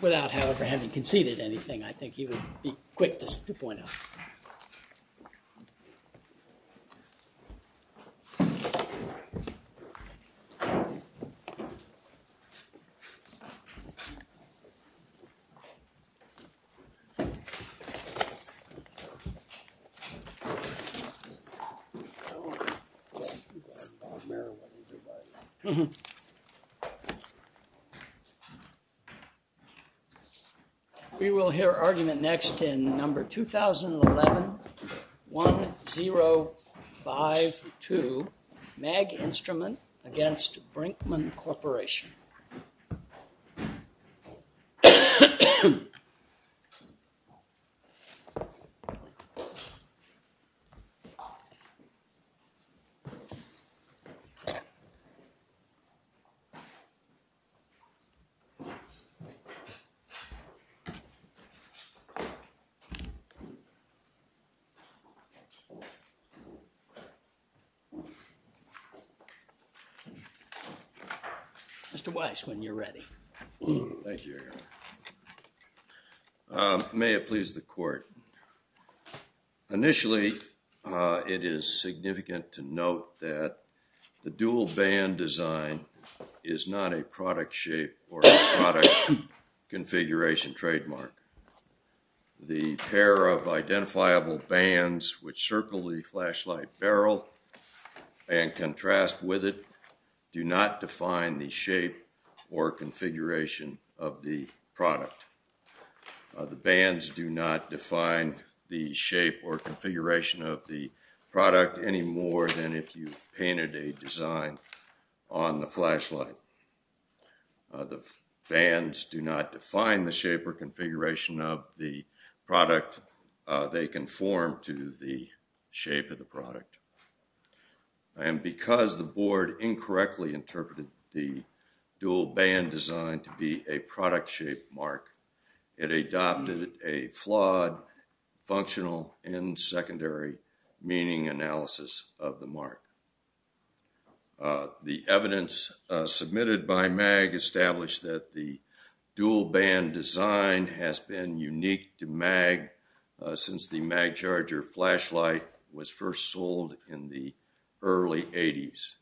Without, however, having conceded anything, I think he would be quick to point out. We will hear argument next in number 2011-1052 MAG INSTRUMENT v. BRINKMANN CORP. Mr. Weiss, when you're ready. Thank you, Your Honor. Initially, it is significant to note that the dual band design is not a product shape or product configuration trademark. The pair of identifiable bands which circle the flashlight barrel and contrast with it do not define the shape or configuration of the product. The bands do not define the shape or configuration of the product any more than if you painted a design on the flashlight. The bands do not define the shape or configuration of the product. They conform to the shape of the product. And because the board incorrectly interpreted the dual band design to be a product shape mark, it adopted a flawed functional and secondary meaning analysis of the mark. The evidence submitted by MAG established that the dual band design has been unique to MAG since the MAG Charger flashlight was first sold in the early 80s.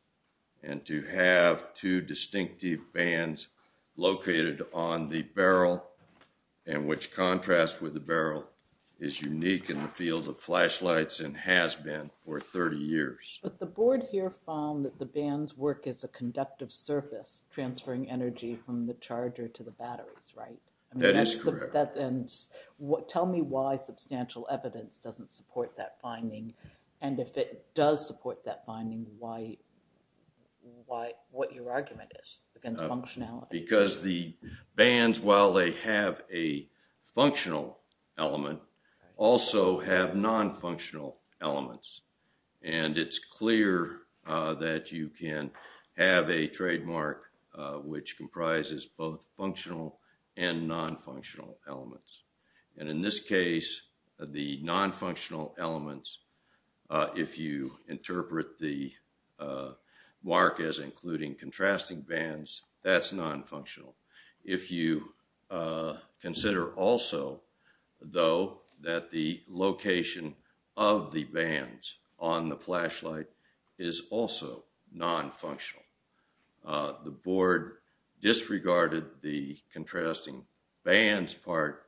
And to have two distinctive bands located on the barrel and which contrast with the barrel is unique in the field of flashlights and has been for 30 years. But the board here found that the bands work as a conductive surface transferring energy from the charger to the batteries, right? That is correct. Tell me why substantial evidence doesn't support that finding. And if it does support that finding, what your argument is against functionality? Because the bands, while they have a functional element, also have non-functional elements. And it's clear that you can have a trademark which comprises both functional and non-functional elements. And in this case, the non-functional elements, if you interpret the mark as including contrasting bands, that's non-functional. If you consider also, though, that the location of the bands on the flashlight is also non-functional. The board disregarded the contrasting bands part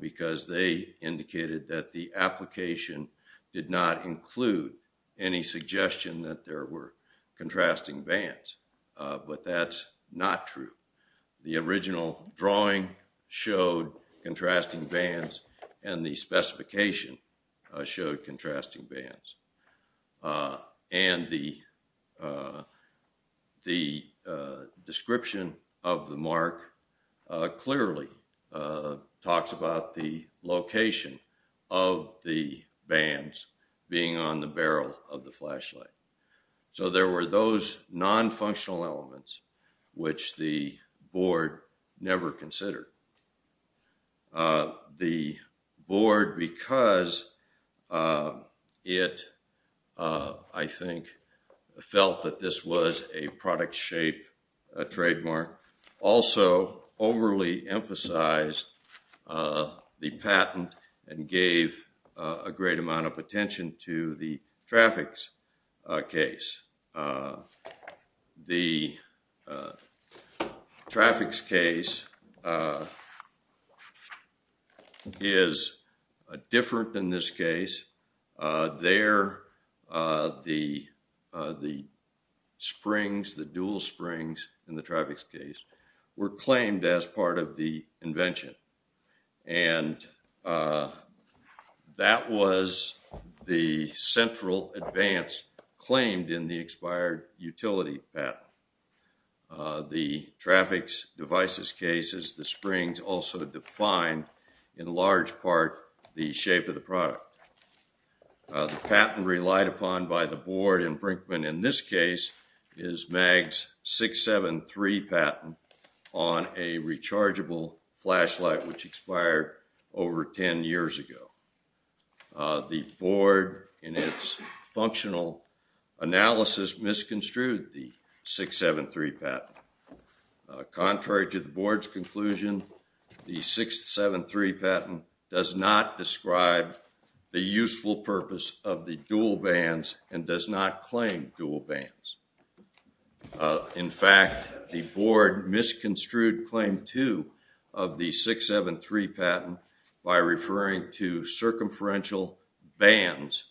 because they indicated that the application did not include any suggestion that there were contrasting bands. But that's not true. The original drawing showed contrasting bands and the specification showed contrasting bands. And the description of the mark clearly talks about the location of the bands being on the barrel of the flashlight. So there were those non-functional elements which the board never considered. The board, because it, I think, felt that this was a product shape trademark, also overly emphasized the patent and gave a great amount of attention to the traffics case. The traffics case is different in this case. There, the springs, the dual springs in the traffics case were claimed as part of the invention. And that was the central advance claimed in the expired utility patent. The traffics devices cases, the springs also defined in large part the shape of the product. The patent relied upon by the board in Brinkman in this case is MAG's 673 patent on a rechargeable flashlight which expired over 10 years ago. The board, in its functional analysis, misconstrued the 673 patent. Contrary to the board's conclusion, the 673 patent does not describe the useful purpose of the dual bands and does not claim dual bands. In fact, the board misconstrued claim two of the 673 patent by referring to circumferential bands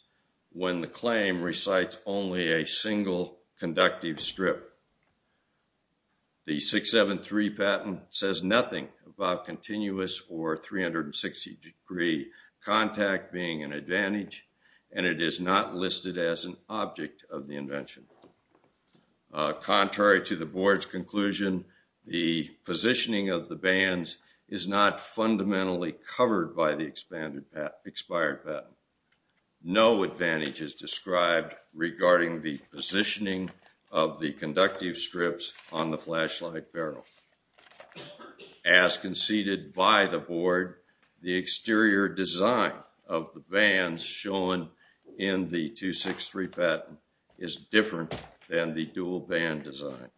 when the claim recites only a single conductive strip. The 673 patent says nothing about continuous or 360 degree contact being an advantage and it is not listed as an object of the invention. Contrary to the board's conclusion, the positioning of the bands is not fundamentally covered by the expanded expired patent. No advantage is described regarding the positioning of the conductive strips on the flashlight barrel. As conceded by the board, the exterior design of the bands shown in the 263 patent is different than the dual band design.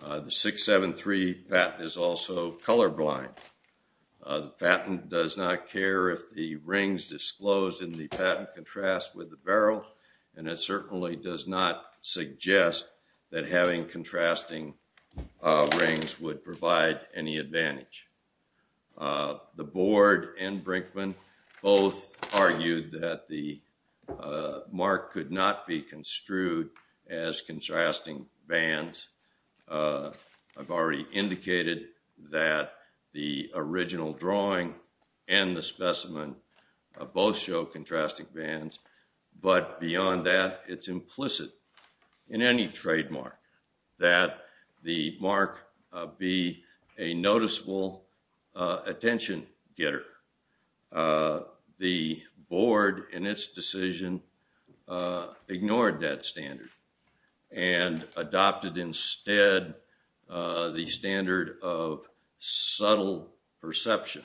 The 673 patent is also colorblind. The patent does not care if the rings disclosed in the patent contrast with the barrel and it certainly does not suggest that having contrasting rings would provide any advantage. The board and Brinkman both argued that the mark could not be construed as contrasting bands. I've already indicated that the original drawing and the specimen both show contrasting bands, but beyond that, it's implicit in any trademark that the mark be a noticeable attention getter. The board in its decision ignored that standard and adopted instead the standard of subtle perception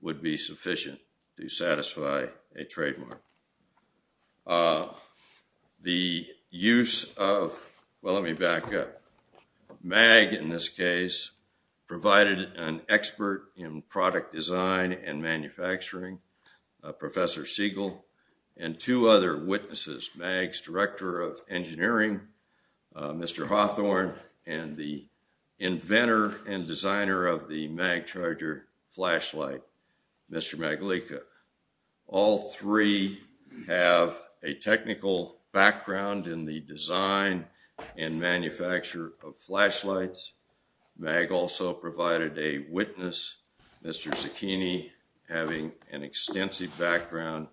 would be sufficient to satisfy a trademark. The use of MAG in this case provided an expert in product design and manufacturing, Professor Siegel, and two other witnesses, MAG's director of engineering, Mr. Hawthorne, and the inventor and designer of the MAG charger flashlight, Mr. Magalico. All three have a technical background in the design and manufacture of flashlights. MAG also provided a witness, Mr. Zucchini, having an extensive background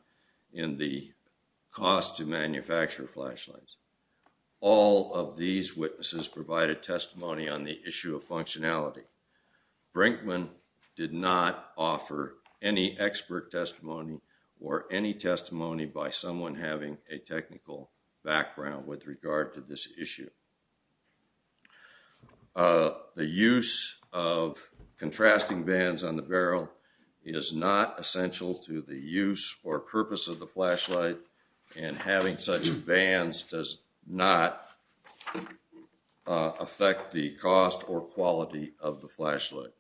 in the cost to manufacture flashlights. All of these witnesses provided testimony on the issue of functionality. Brinkman did not offer any expert testimony or any testimony by someone having a technical background with regard to this issue. The use of contrasting bands on the barrel is not essential to the use or purpose of the flashlight, and having such bands does not affect the cost or quality of the flashlight.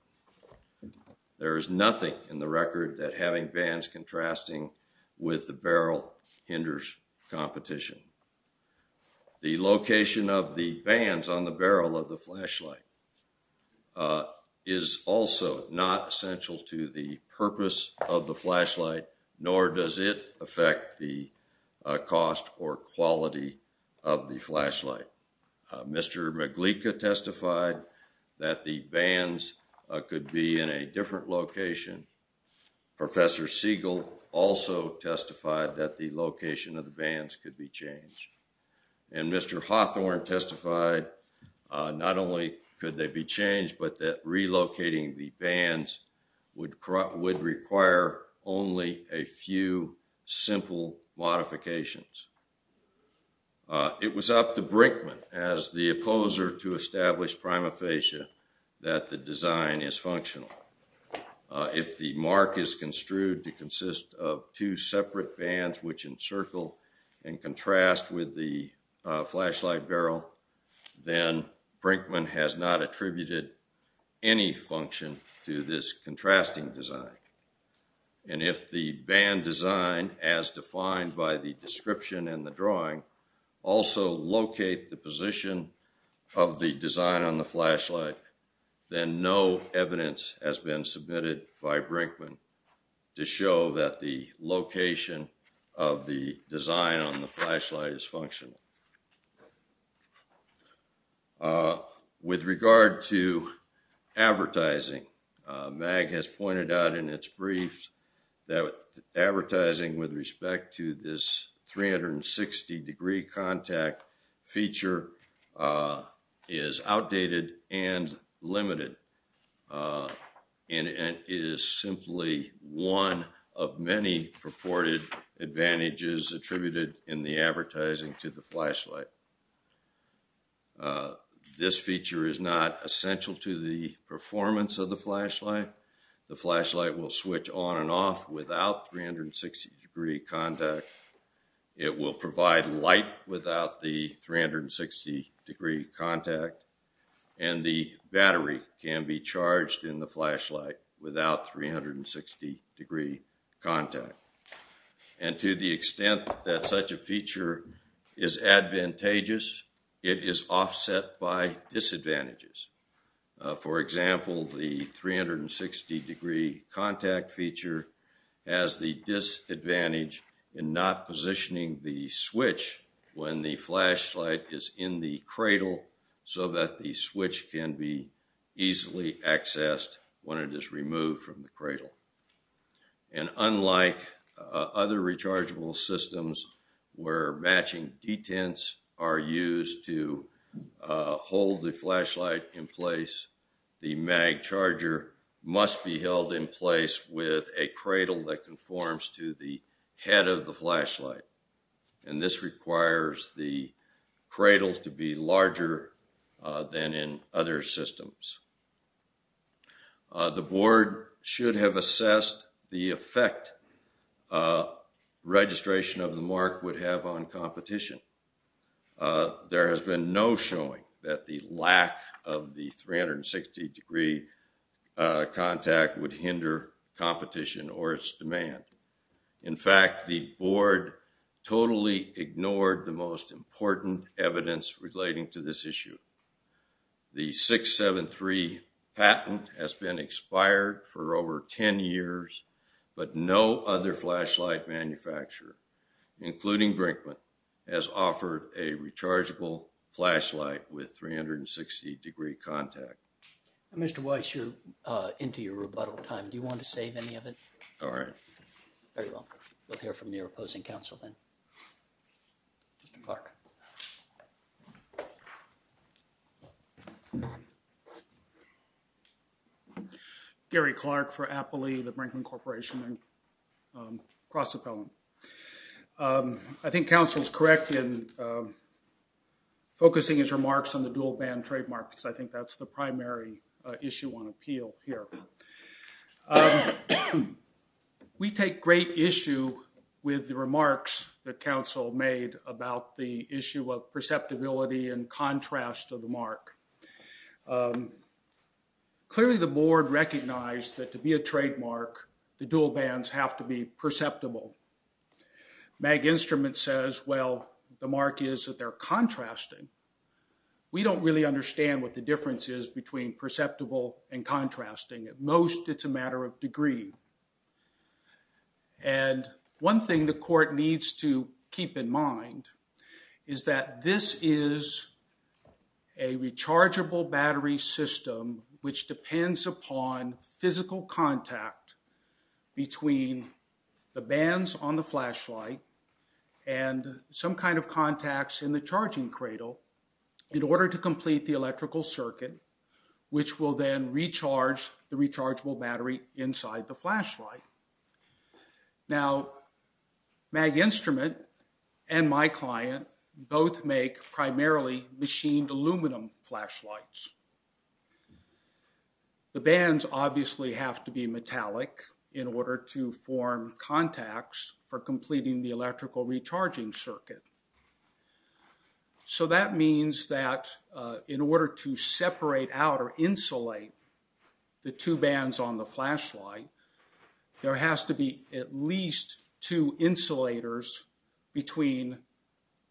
There is nothing in the record that having bands contrasting with the barrel hinders competition. The location of the bands on the barrel of the flashlight is also not essential to the purpose of the flashlight, nor does it affect the cost or quality of the flashlight. Mr. Magalico testified that the bands could be in a different location. Professor Siegel also testified that the location of the bands could be changed. And Mr. Hawthorne testified not only could they be changed, but that relocating the bands would require only a few simple modifications. It was up to Brinkman as the opposer to establish prima facie that the design is functional. If the mark is construed to consist of two separate bands which encircle and contrast with the flashlight barrel, then Brinkman has not attributed any function to this contrasting design. And if the band design, as defined by the description in the drawing, also locate the position of the design on the flashlight, then no evidence has been submitted by Brinkman to show that the location of the design on the flashlight is functional. With regard to advertising, Mag has pointed out in its briefs that advertising with respect to this 360 degree contact feature is outdated and limited. And it is simply one of many purported advantages attributed in the advertising to the flashlight. This feature is not essential to the performance of the flashlight. The flashlight will switch on and off without 360 degree contact. It will provide light without the 360 degree contact. And the battery can be charged in the flashlight without 360 degree contact. And to the extent that such a feature is advantageous, it is offset by disadvantages. For example, the 360 degree contact feature has the disadvantage in not positioning the switch when the flashlight is in the cradle so that the switch can be easily accessed when it is removed from the cradle. And unlike other rechargeable systems where matching detents are used to hold the flashlight in place, the Mag charger must be held in place with a cradle that conforms to the head of the flashlight. And this requires the cradle to be larger than in other systems. The board should have assessed the effect registration of the Mark would have on competition. There has been no showing that the lack of the 360 degree contact would hinder competition or its demand. In fact, the board totally ignored the most important evidence relating to this issue. The 673 patent has been expired for over 10 years, but no other flashlight manufacturer, including Brinkman, has offered a rechargeable flashlight with 360 degree contact. Mr. Weiss, you're into your rebuttal time. Do you want to save any of it? All right. Very well. We'll hear from your opposing counsel then. Mr. Clark. Gary Clark for Appley, the Brinkman Corporation and CrossAppellant. I think counsel's correct in focusing his remarks on the dual band trademark because I think that's the primary issue on appeal here. We take great issue with the remarks that counsel made about the issue of perceptibility and contrast of the Mark. Clearly, the board recognized that to be a trademark, the dual bands have to be perceptible. MAG Instruments says, well, the Mark is that they're contrasting. We don't really understand what the difference is between perceptible and contrasting. At most, it's a matter of degree. And one thing the court needs to keep in mind is that this is a rechargeable battery system, which depends upon physical contact between the bands on the flashlight and some kind of contacts in the charging cradle in order to complete the electrical circuit, which will then recharge the rechargeable battery inside the flashlight. Now, MAG Instrument and my client both make primarily machined aluminum flashlights. The bands obviously have to be metallic in order to form contacts for completing the electrical recharging circuit. So that means that in order to separate out or insulate the two bands on the flashlight, there has to be at least two insulators between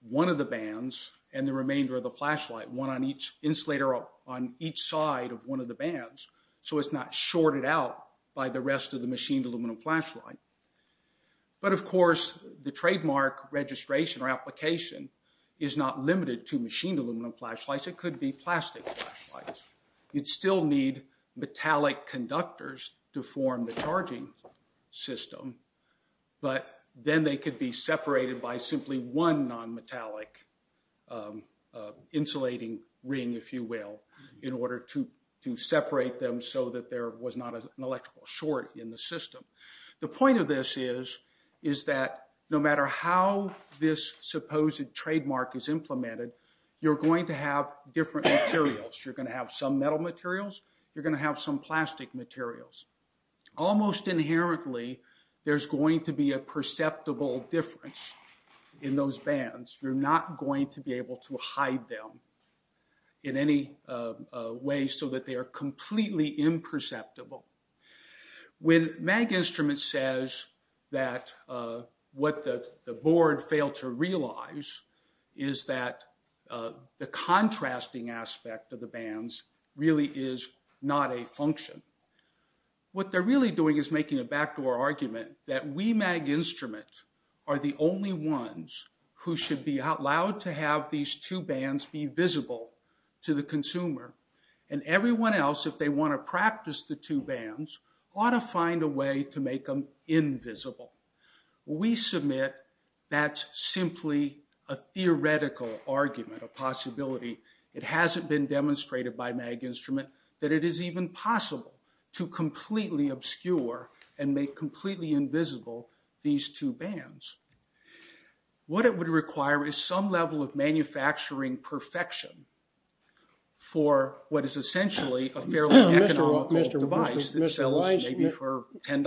one of the bands and the remainder of the flashlight, one on each insulator on each side of one of the bands, so it's not shorted out by the rest of the machined aluminum flashlight. But of course, the trademark registration or application is not limited to machined aluminum flashlights. It could be plastic flashlights. You'd still need metallic conductors to form the charging system, but then they could be separated by simply one non-metallic insulating ring, if you will, in order to separate them so that there was not an electrical short in the system. The point of this is that no matter how this supposed trademark is implemented, you're going to have different materials. You're going to have some metal materials. You're going to have some plastic materials. Almost inherently, there's going to be a perceptible difference in those bands. You're not going to be able to hide them in any way so that they are completely imperceptible. When MAG Instruments says that what the board failed to realize is that the contrasting aspect of the bands really is not a function, what they're really doing is making a backdoor argument that we, MAG Instruments, are the only ones who should be allowed to have these two bands be visible to the consumer. Everyone else, if they want to practice the two bands, ought to find a way to make them invisible. We submit that's simply a theoretical argument, a possibility. It hasn't been demonstrated by MAG Instruments that it is even possible to completely obscure and make completely invisible these two bands. What it would require is some level of manufacturing perfection for what is essentially a fairly economical device that sells maybe for $10.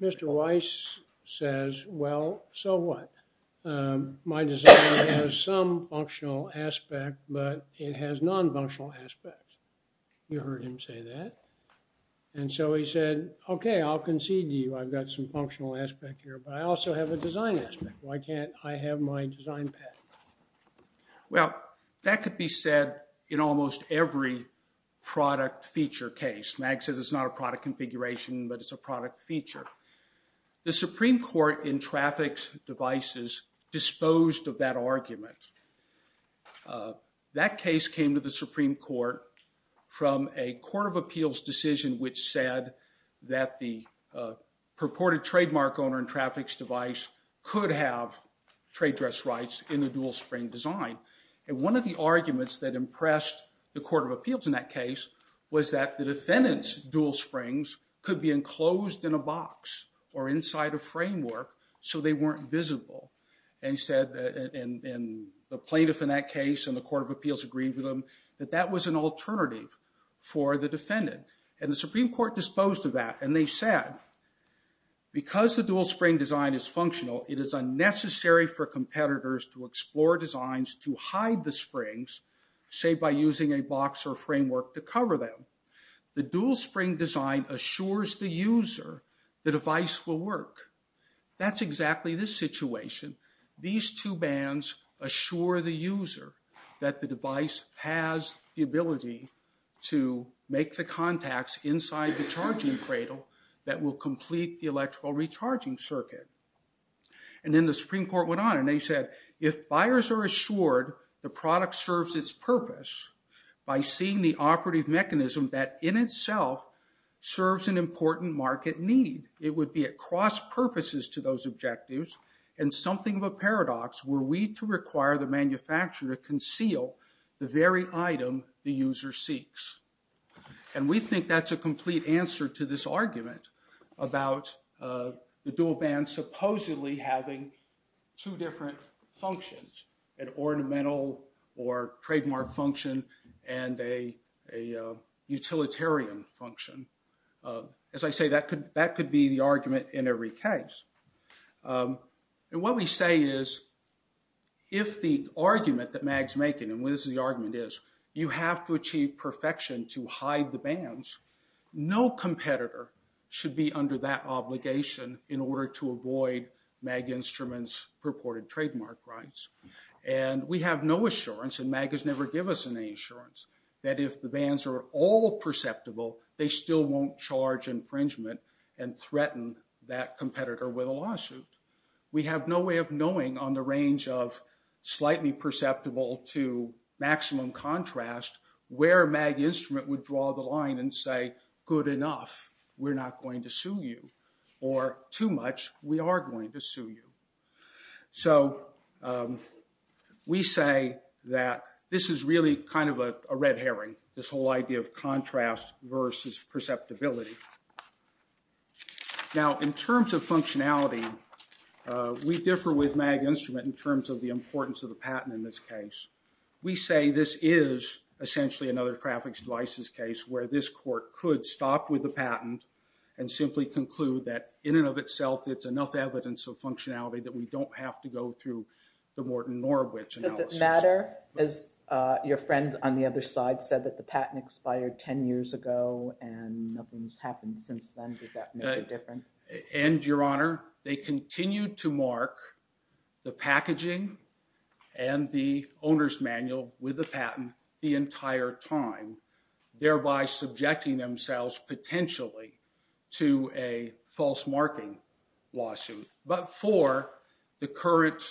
Mr. Weiss says, well, so what? My design has some functional aspect, but it has non-functional aspects. You heard him say that. And so he said, okay, I'll concede to you. I've got some functional aspect here, but I also have a design aspect. Why can't I have my design pattern? Well, that could be said in almost every product feature case. MAG says it's not a product configuration, but it's a product feature. The Supreme Court in traffics devices disposed of that argument. That case came to the Supreme Court from a court of appeals decision which said that the purported trademark owner in traffics device could have trade dress rights in the dual spring design. And one of the arguments that impressed the court of appeals in that case was that the defendant's dual springs could be enclosed in a box or inside a framework so they weren't visible. And he said, and the plaintiff in that case and the court of appeals agreed with him, that that was an alternative for the defendant. And the Supreme Court disposed of that. And they said, because the dual spring design is functional, it is unnecessary for competitors to explore designs to hide the springs, say by using a box or framework to cover them. The dual spring design assures the user the device will work. That's exactly this situation. These two bands assure the user that the device has the ability to make the contacts inside the charging cradle that will complete the electrical recharging circuit. And then the Supreme Court went on and they said, if buyers are assured the product serves its purpose by seeing the operative mechanism that in itself serves an important market need, it would be at cross purposes to those objectives and something of a paradox were we to require the manufacturer to conceal the very item the user seeks. And we think that's a complete answer to this argument about the dual band supposedly having two different functions, an ornamental or trademark function and a utilitarian function. As I say, that could be the argument in every case. And what we say is, if the argument that MAG's making, and this is the argument is, you have to achieve perfection to hide the bands, no competitor should be under that obligation in order to avoid MAG Instruments purported trademark rights. And we have no assurance, and MAG has never given us any assurance, that if the bands are all perceptible, they still won't charge infringement and threaten that competitor with a lawsuit. We have no way of knowing on the range of slightly perceptible to maximum contrast where MAG Instrument would draw the line and say, good enough, we're not going to sue you, or too much, we are going to sue you. So we say that this is really kind of a red herring, this whole idea of contrast versus perceptibility. Now, in terms of functionality, we differ with MAG Instrument in terms of the importance of the patent in this case. We say this is essentially another traffic devices case where this court could stop with the patent and simply conclude that in and of itself it's enough evidence of functionality that we don't have to go through the Morton Norwich analysis. Does it matter, as your friend on the other side said that the patent expired 10 years ago and nothing's happened since then, does that make a difference? And your honor, they continue to mark the packaging and the owner's manual with the patent the entire time, thereby subjecting themselves potentially to a false marking lawsuit. But for the current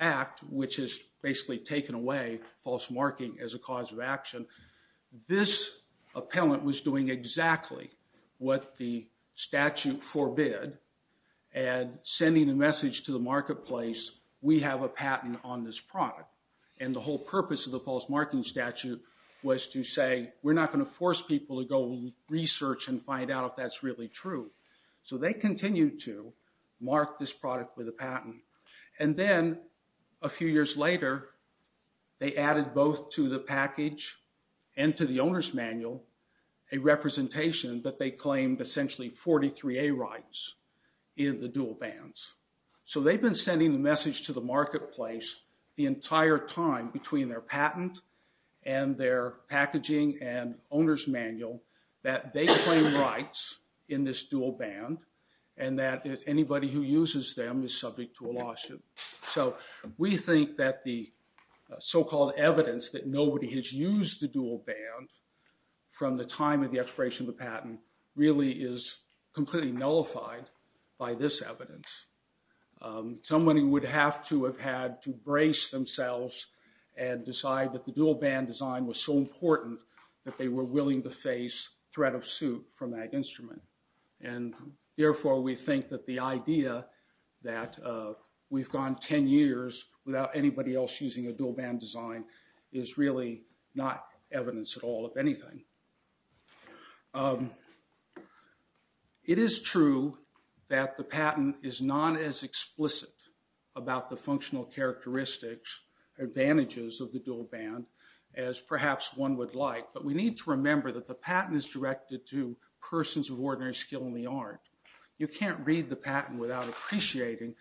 act, which has basically taken away false marking as a cause of action, this appellant was doing exactly what the statute forbid and sending the message to the marketplace, we have a patent on this product. And the whole purpose of the false marking statute was to say we're not going to force people to go research and find out if that's really true. So they continue to mark this product with a patent. And then a few years later, they added both to the package and to the owner's manual a representation that they claimed essentially 43A rights in the dual bans. So they've been sending the message to the marketplace the entire time between their patent and their packaging and owner's manual that they claim rights in this dual ban and that anybody who uses them is subject to a lawsuit. So we think that the so-called evidence that nobody has used the dual ban from the time of the expiration of the patent really is completely nullified by this evidence. Somebody would have to have had to brace themselves and decide that the dual ban design was so important that they were willing to face threat of suit from that instrument. And therefore, we think that the idea that we've gone 10 years without anybody else using a dual ban design is really not evidence at all of anything. It is true that the patent is not as explicit about the functional characteristics, advantages of the dual ban as perhaps one would like. But we need to remember that the patent is directed to persons of ordinary skill in the art. You can't read the patent without appreciating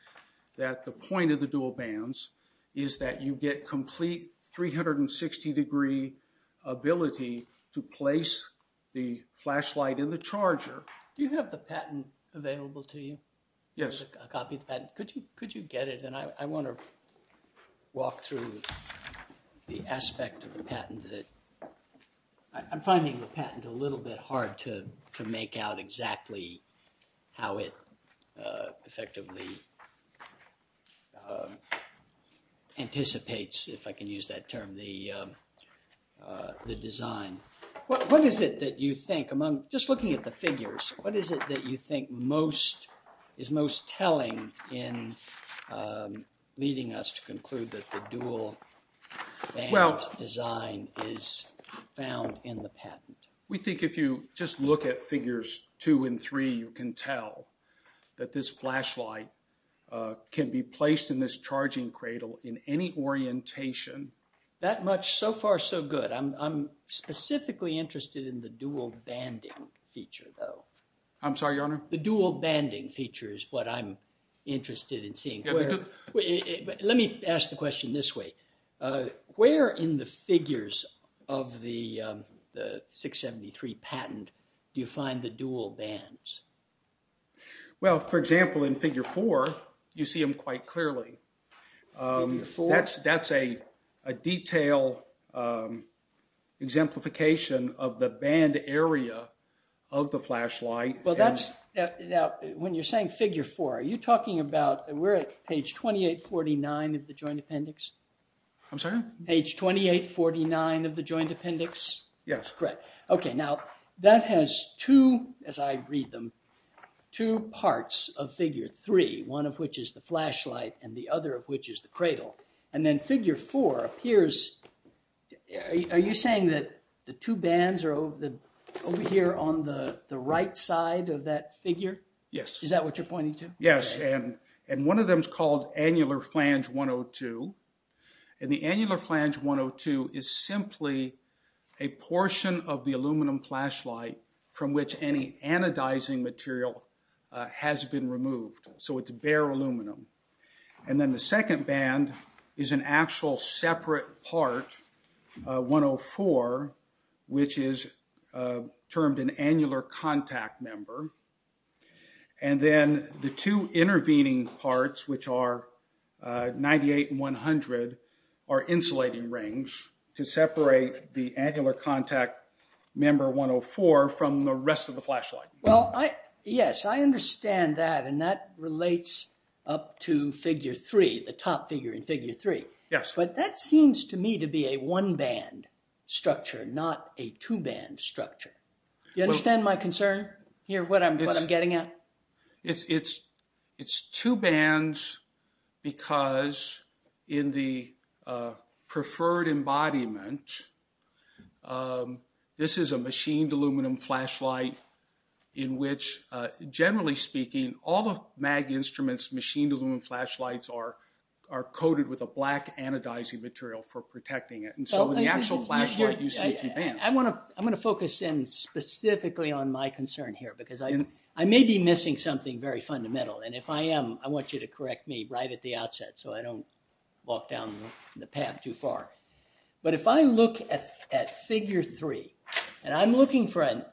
that the point of the dual bans is that you get complete 360 degree ability to place the flashlight in the charger. Do you have the patent available to you? Yes. Could you get it? And I want to walk through the aspect of the patent that I'm finding the patent a little bit hard to make out exactly how it effectively anticipates, if I can use that term, the design. What is it that you think among, just looking at the figures, what is it that you think most is most telling in leading us to conclude that the dual ban design is found in the patent? We think if you just look at figures two and three, you can tell that this flashlight can be placed in this charging cradle in any orientation. That much so far so good. I'm specifically interested in the dual banding feature though. I'm sorry, your honor. The dual banding feature is what I'm interested in seeing. Let me ask the question this way. Where in the figures of the 673 patent do you find the dual bands? Well, for example, in figure four, you see them quite clearly. That's a detailed exemplification of the band area of the flashlight. Well, that's, when you're saying figure four, are you talking about, we're at page 2849 of the joint appendix? I'm sorry? Page 2849 of the joint appendix? Yes. Okay. Now, that has two, as I read them, two parts of figure three, one of which is the flashlight and the other of which is the cradle. And then figure four appears, are you saying that the two bands are over here on the right side of that figure? Yes. Is that what you're pointing to? Yes. And one of them is called annular flange 102. And the annular flange 102 is simply a portion of the aluminum flashlight from which any anodizing material has been removed. So it's bare aluminum. And then the second band is an actual separate part, 104, which is termed an annular contact member. And then the two intervening parts, which are 98 and 100, are insulating rings to separate the annular contact member 104 from the rest of the flashlight. Well, yes, I understand that, and that relates up to figure three, the top figure in figure three. Yes. But that seems to me to be a one-band structure, not a two-band structure. You understand my concern here, what I'm getting at? It's two bands because in the preferred embodiment, this is a machined aluminum flashlight in which, generally speaking, all the MAG instruments machined aluminum flashlights are coated with a black anodizing material for protecting it. And so in the actual flashlight, you see two bands. I'm going to focus in specifically on my concern here because I may be missing something very fundamental. And if I am, I want you to correct me right at the outset so I don't walk down the path too far. But if I look at figure three and I'm looking for an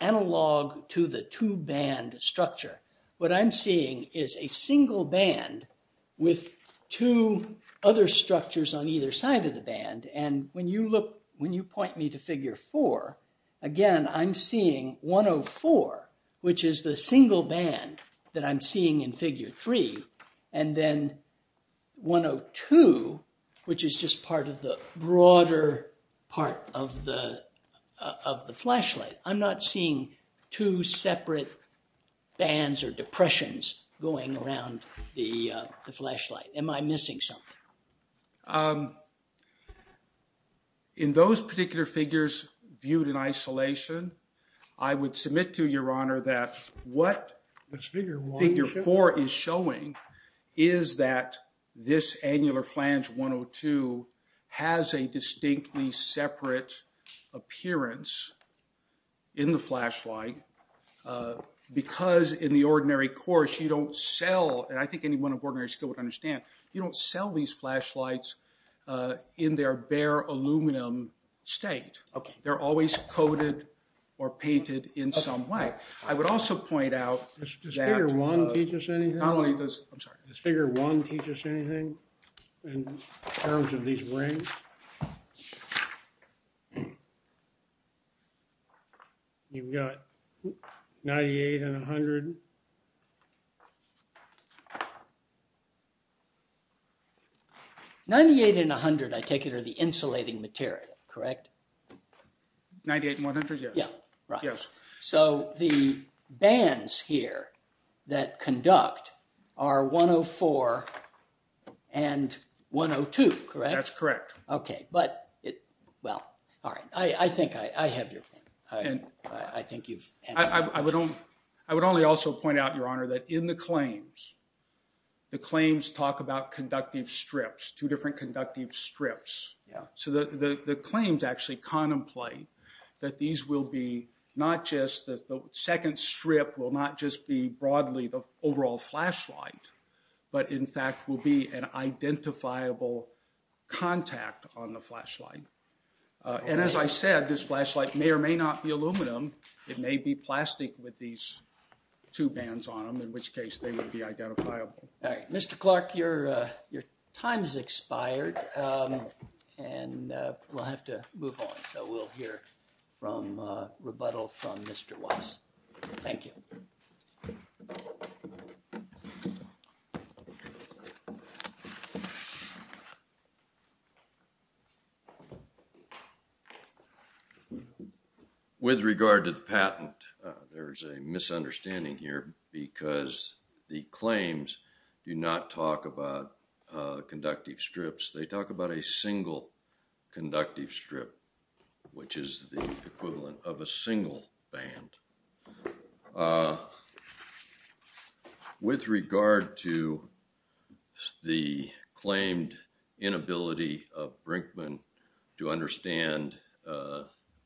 analog to the two-band structure, what I'm seeing is a single band with two other structures on either side of the band. And when you point me to figure four, again, I'm seeing 104, which is the single band that I'm seeing in figure three, and then 102, which is just part of the broader part of the flashlight. I'm not seeing two separate bands or depressions going around the flashlight. Am I missing something? In those particular figures viewed in isolation, I would submit to your honor that what figure four is showing is that this annular flange 102 has a distinctly separate appearance in the flashlight. Because in the ordinary course, you don't sell, and I think anyone of ordinary skill would understand, you don't sell these flashlights in their bare aluminum state. They're always coated or painted in some way. I would also point out that— Does figure one teach us anything? Not only does—I'm sorry. Does figure one teach us anything in terms of these rings? You've got 98 and 100. 98 and 100, I take it, are the insulating material, correct? 98 and 100, yes. Yeah, right. Yes. So the bands here that conduct are 104 and 102, correct? That's correct. Okay. Well, all right. I think I have your point. I think you've answered it. I would only also point out, your honor, that in the claims, the claims talk about conductive strips, two different conductive strips. So the claims actually contemplate that these will be not just—the second strip will not just be broadly the overall flashlight, but in fact will be an identifiable contact on the flashlight. And as I said, this flashlight may or may not be aluminum. It may be plastic with these two bands on them, in which case they would be identifiable. All right. Mr. Clark, your time has expired, and we'll have to move on. So we'll hear from—rebuttal from Mr. Watts. Thank you. With regard to the patent, there is a misunderstanding here because the claims do not talk about conductive strips. They talk about a single conductive strip, which is the equivalent of a single band. With regard to the claimed inability of Brinkman to understand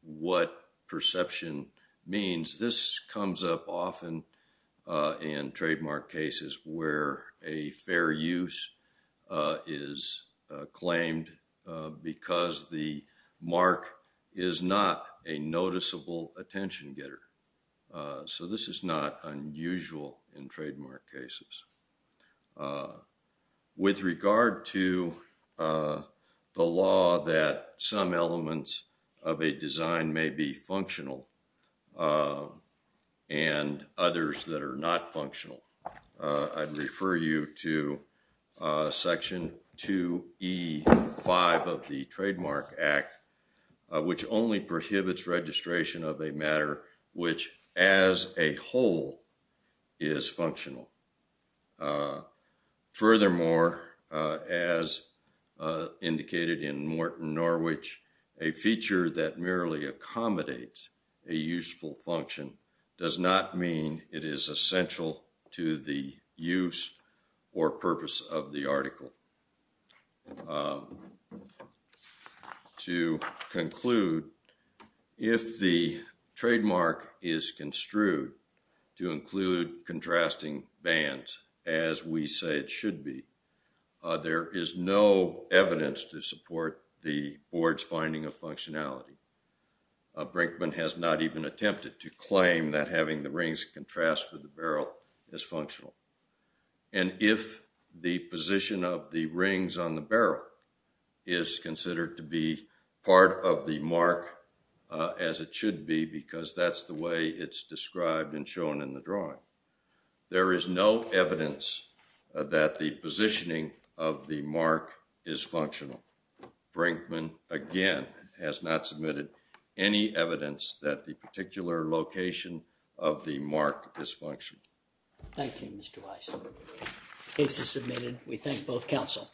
what perception means, this comes up often in trademark cases where a fair use is claimed because the mark is not a noticeable attention getter. So this is not unusual in trademark cases. With regard to the law that some elements of a design may be functional and others that are not functional, I'd refer you to Section 2E-5 of the Trademark Act, which only prohibits registration of a matter which as a whole is functional. Furthermore, as indicated in Morton Norwich, a feature that merely accommodates a useful function does not mean it is essential to the use or purpose of the article. To conclude, if the trademark is construed to include contrasting bands as we say it should be, there is no evidence to support the board's finding of functionality. Brinkman has not even attempted to claim that having the rings contrast with the barrel is functional. And if the position of the rings on the barrel is considered to be part of the mark as it should be because that's the way it's described and shown in the drawing, there is no evidence that the positioning of the mark is functional. Brinkman, again, has not submitted any evidence that the particular location of the mark is functional. Thank you, Mr. Weiss. Case is submitted. We thank both counsel.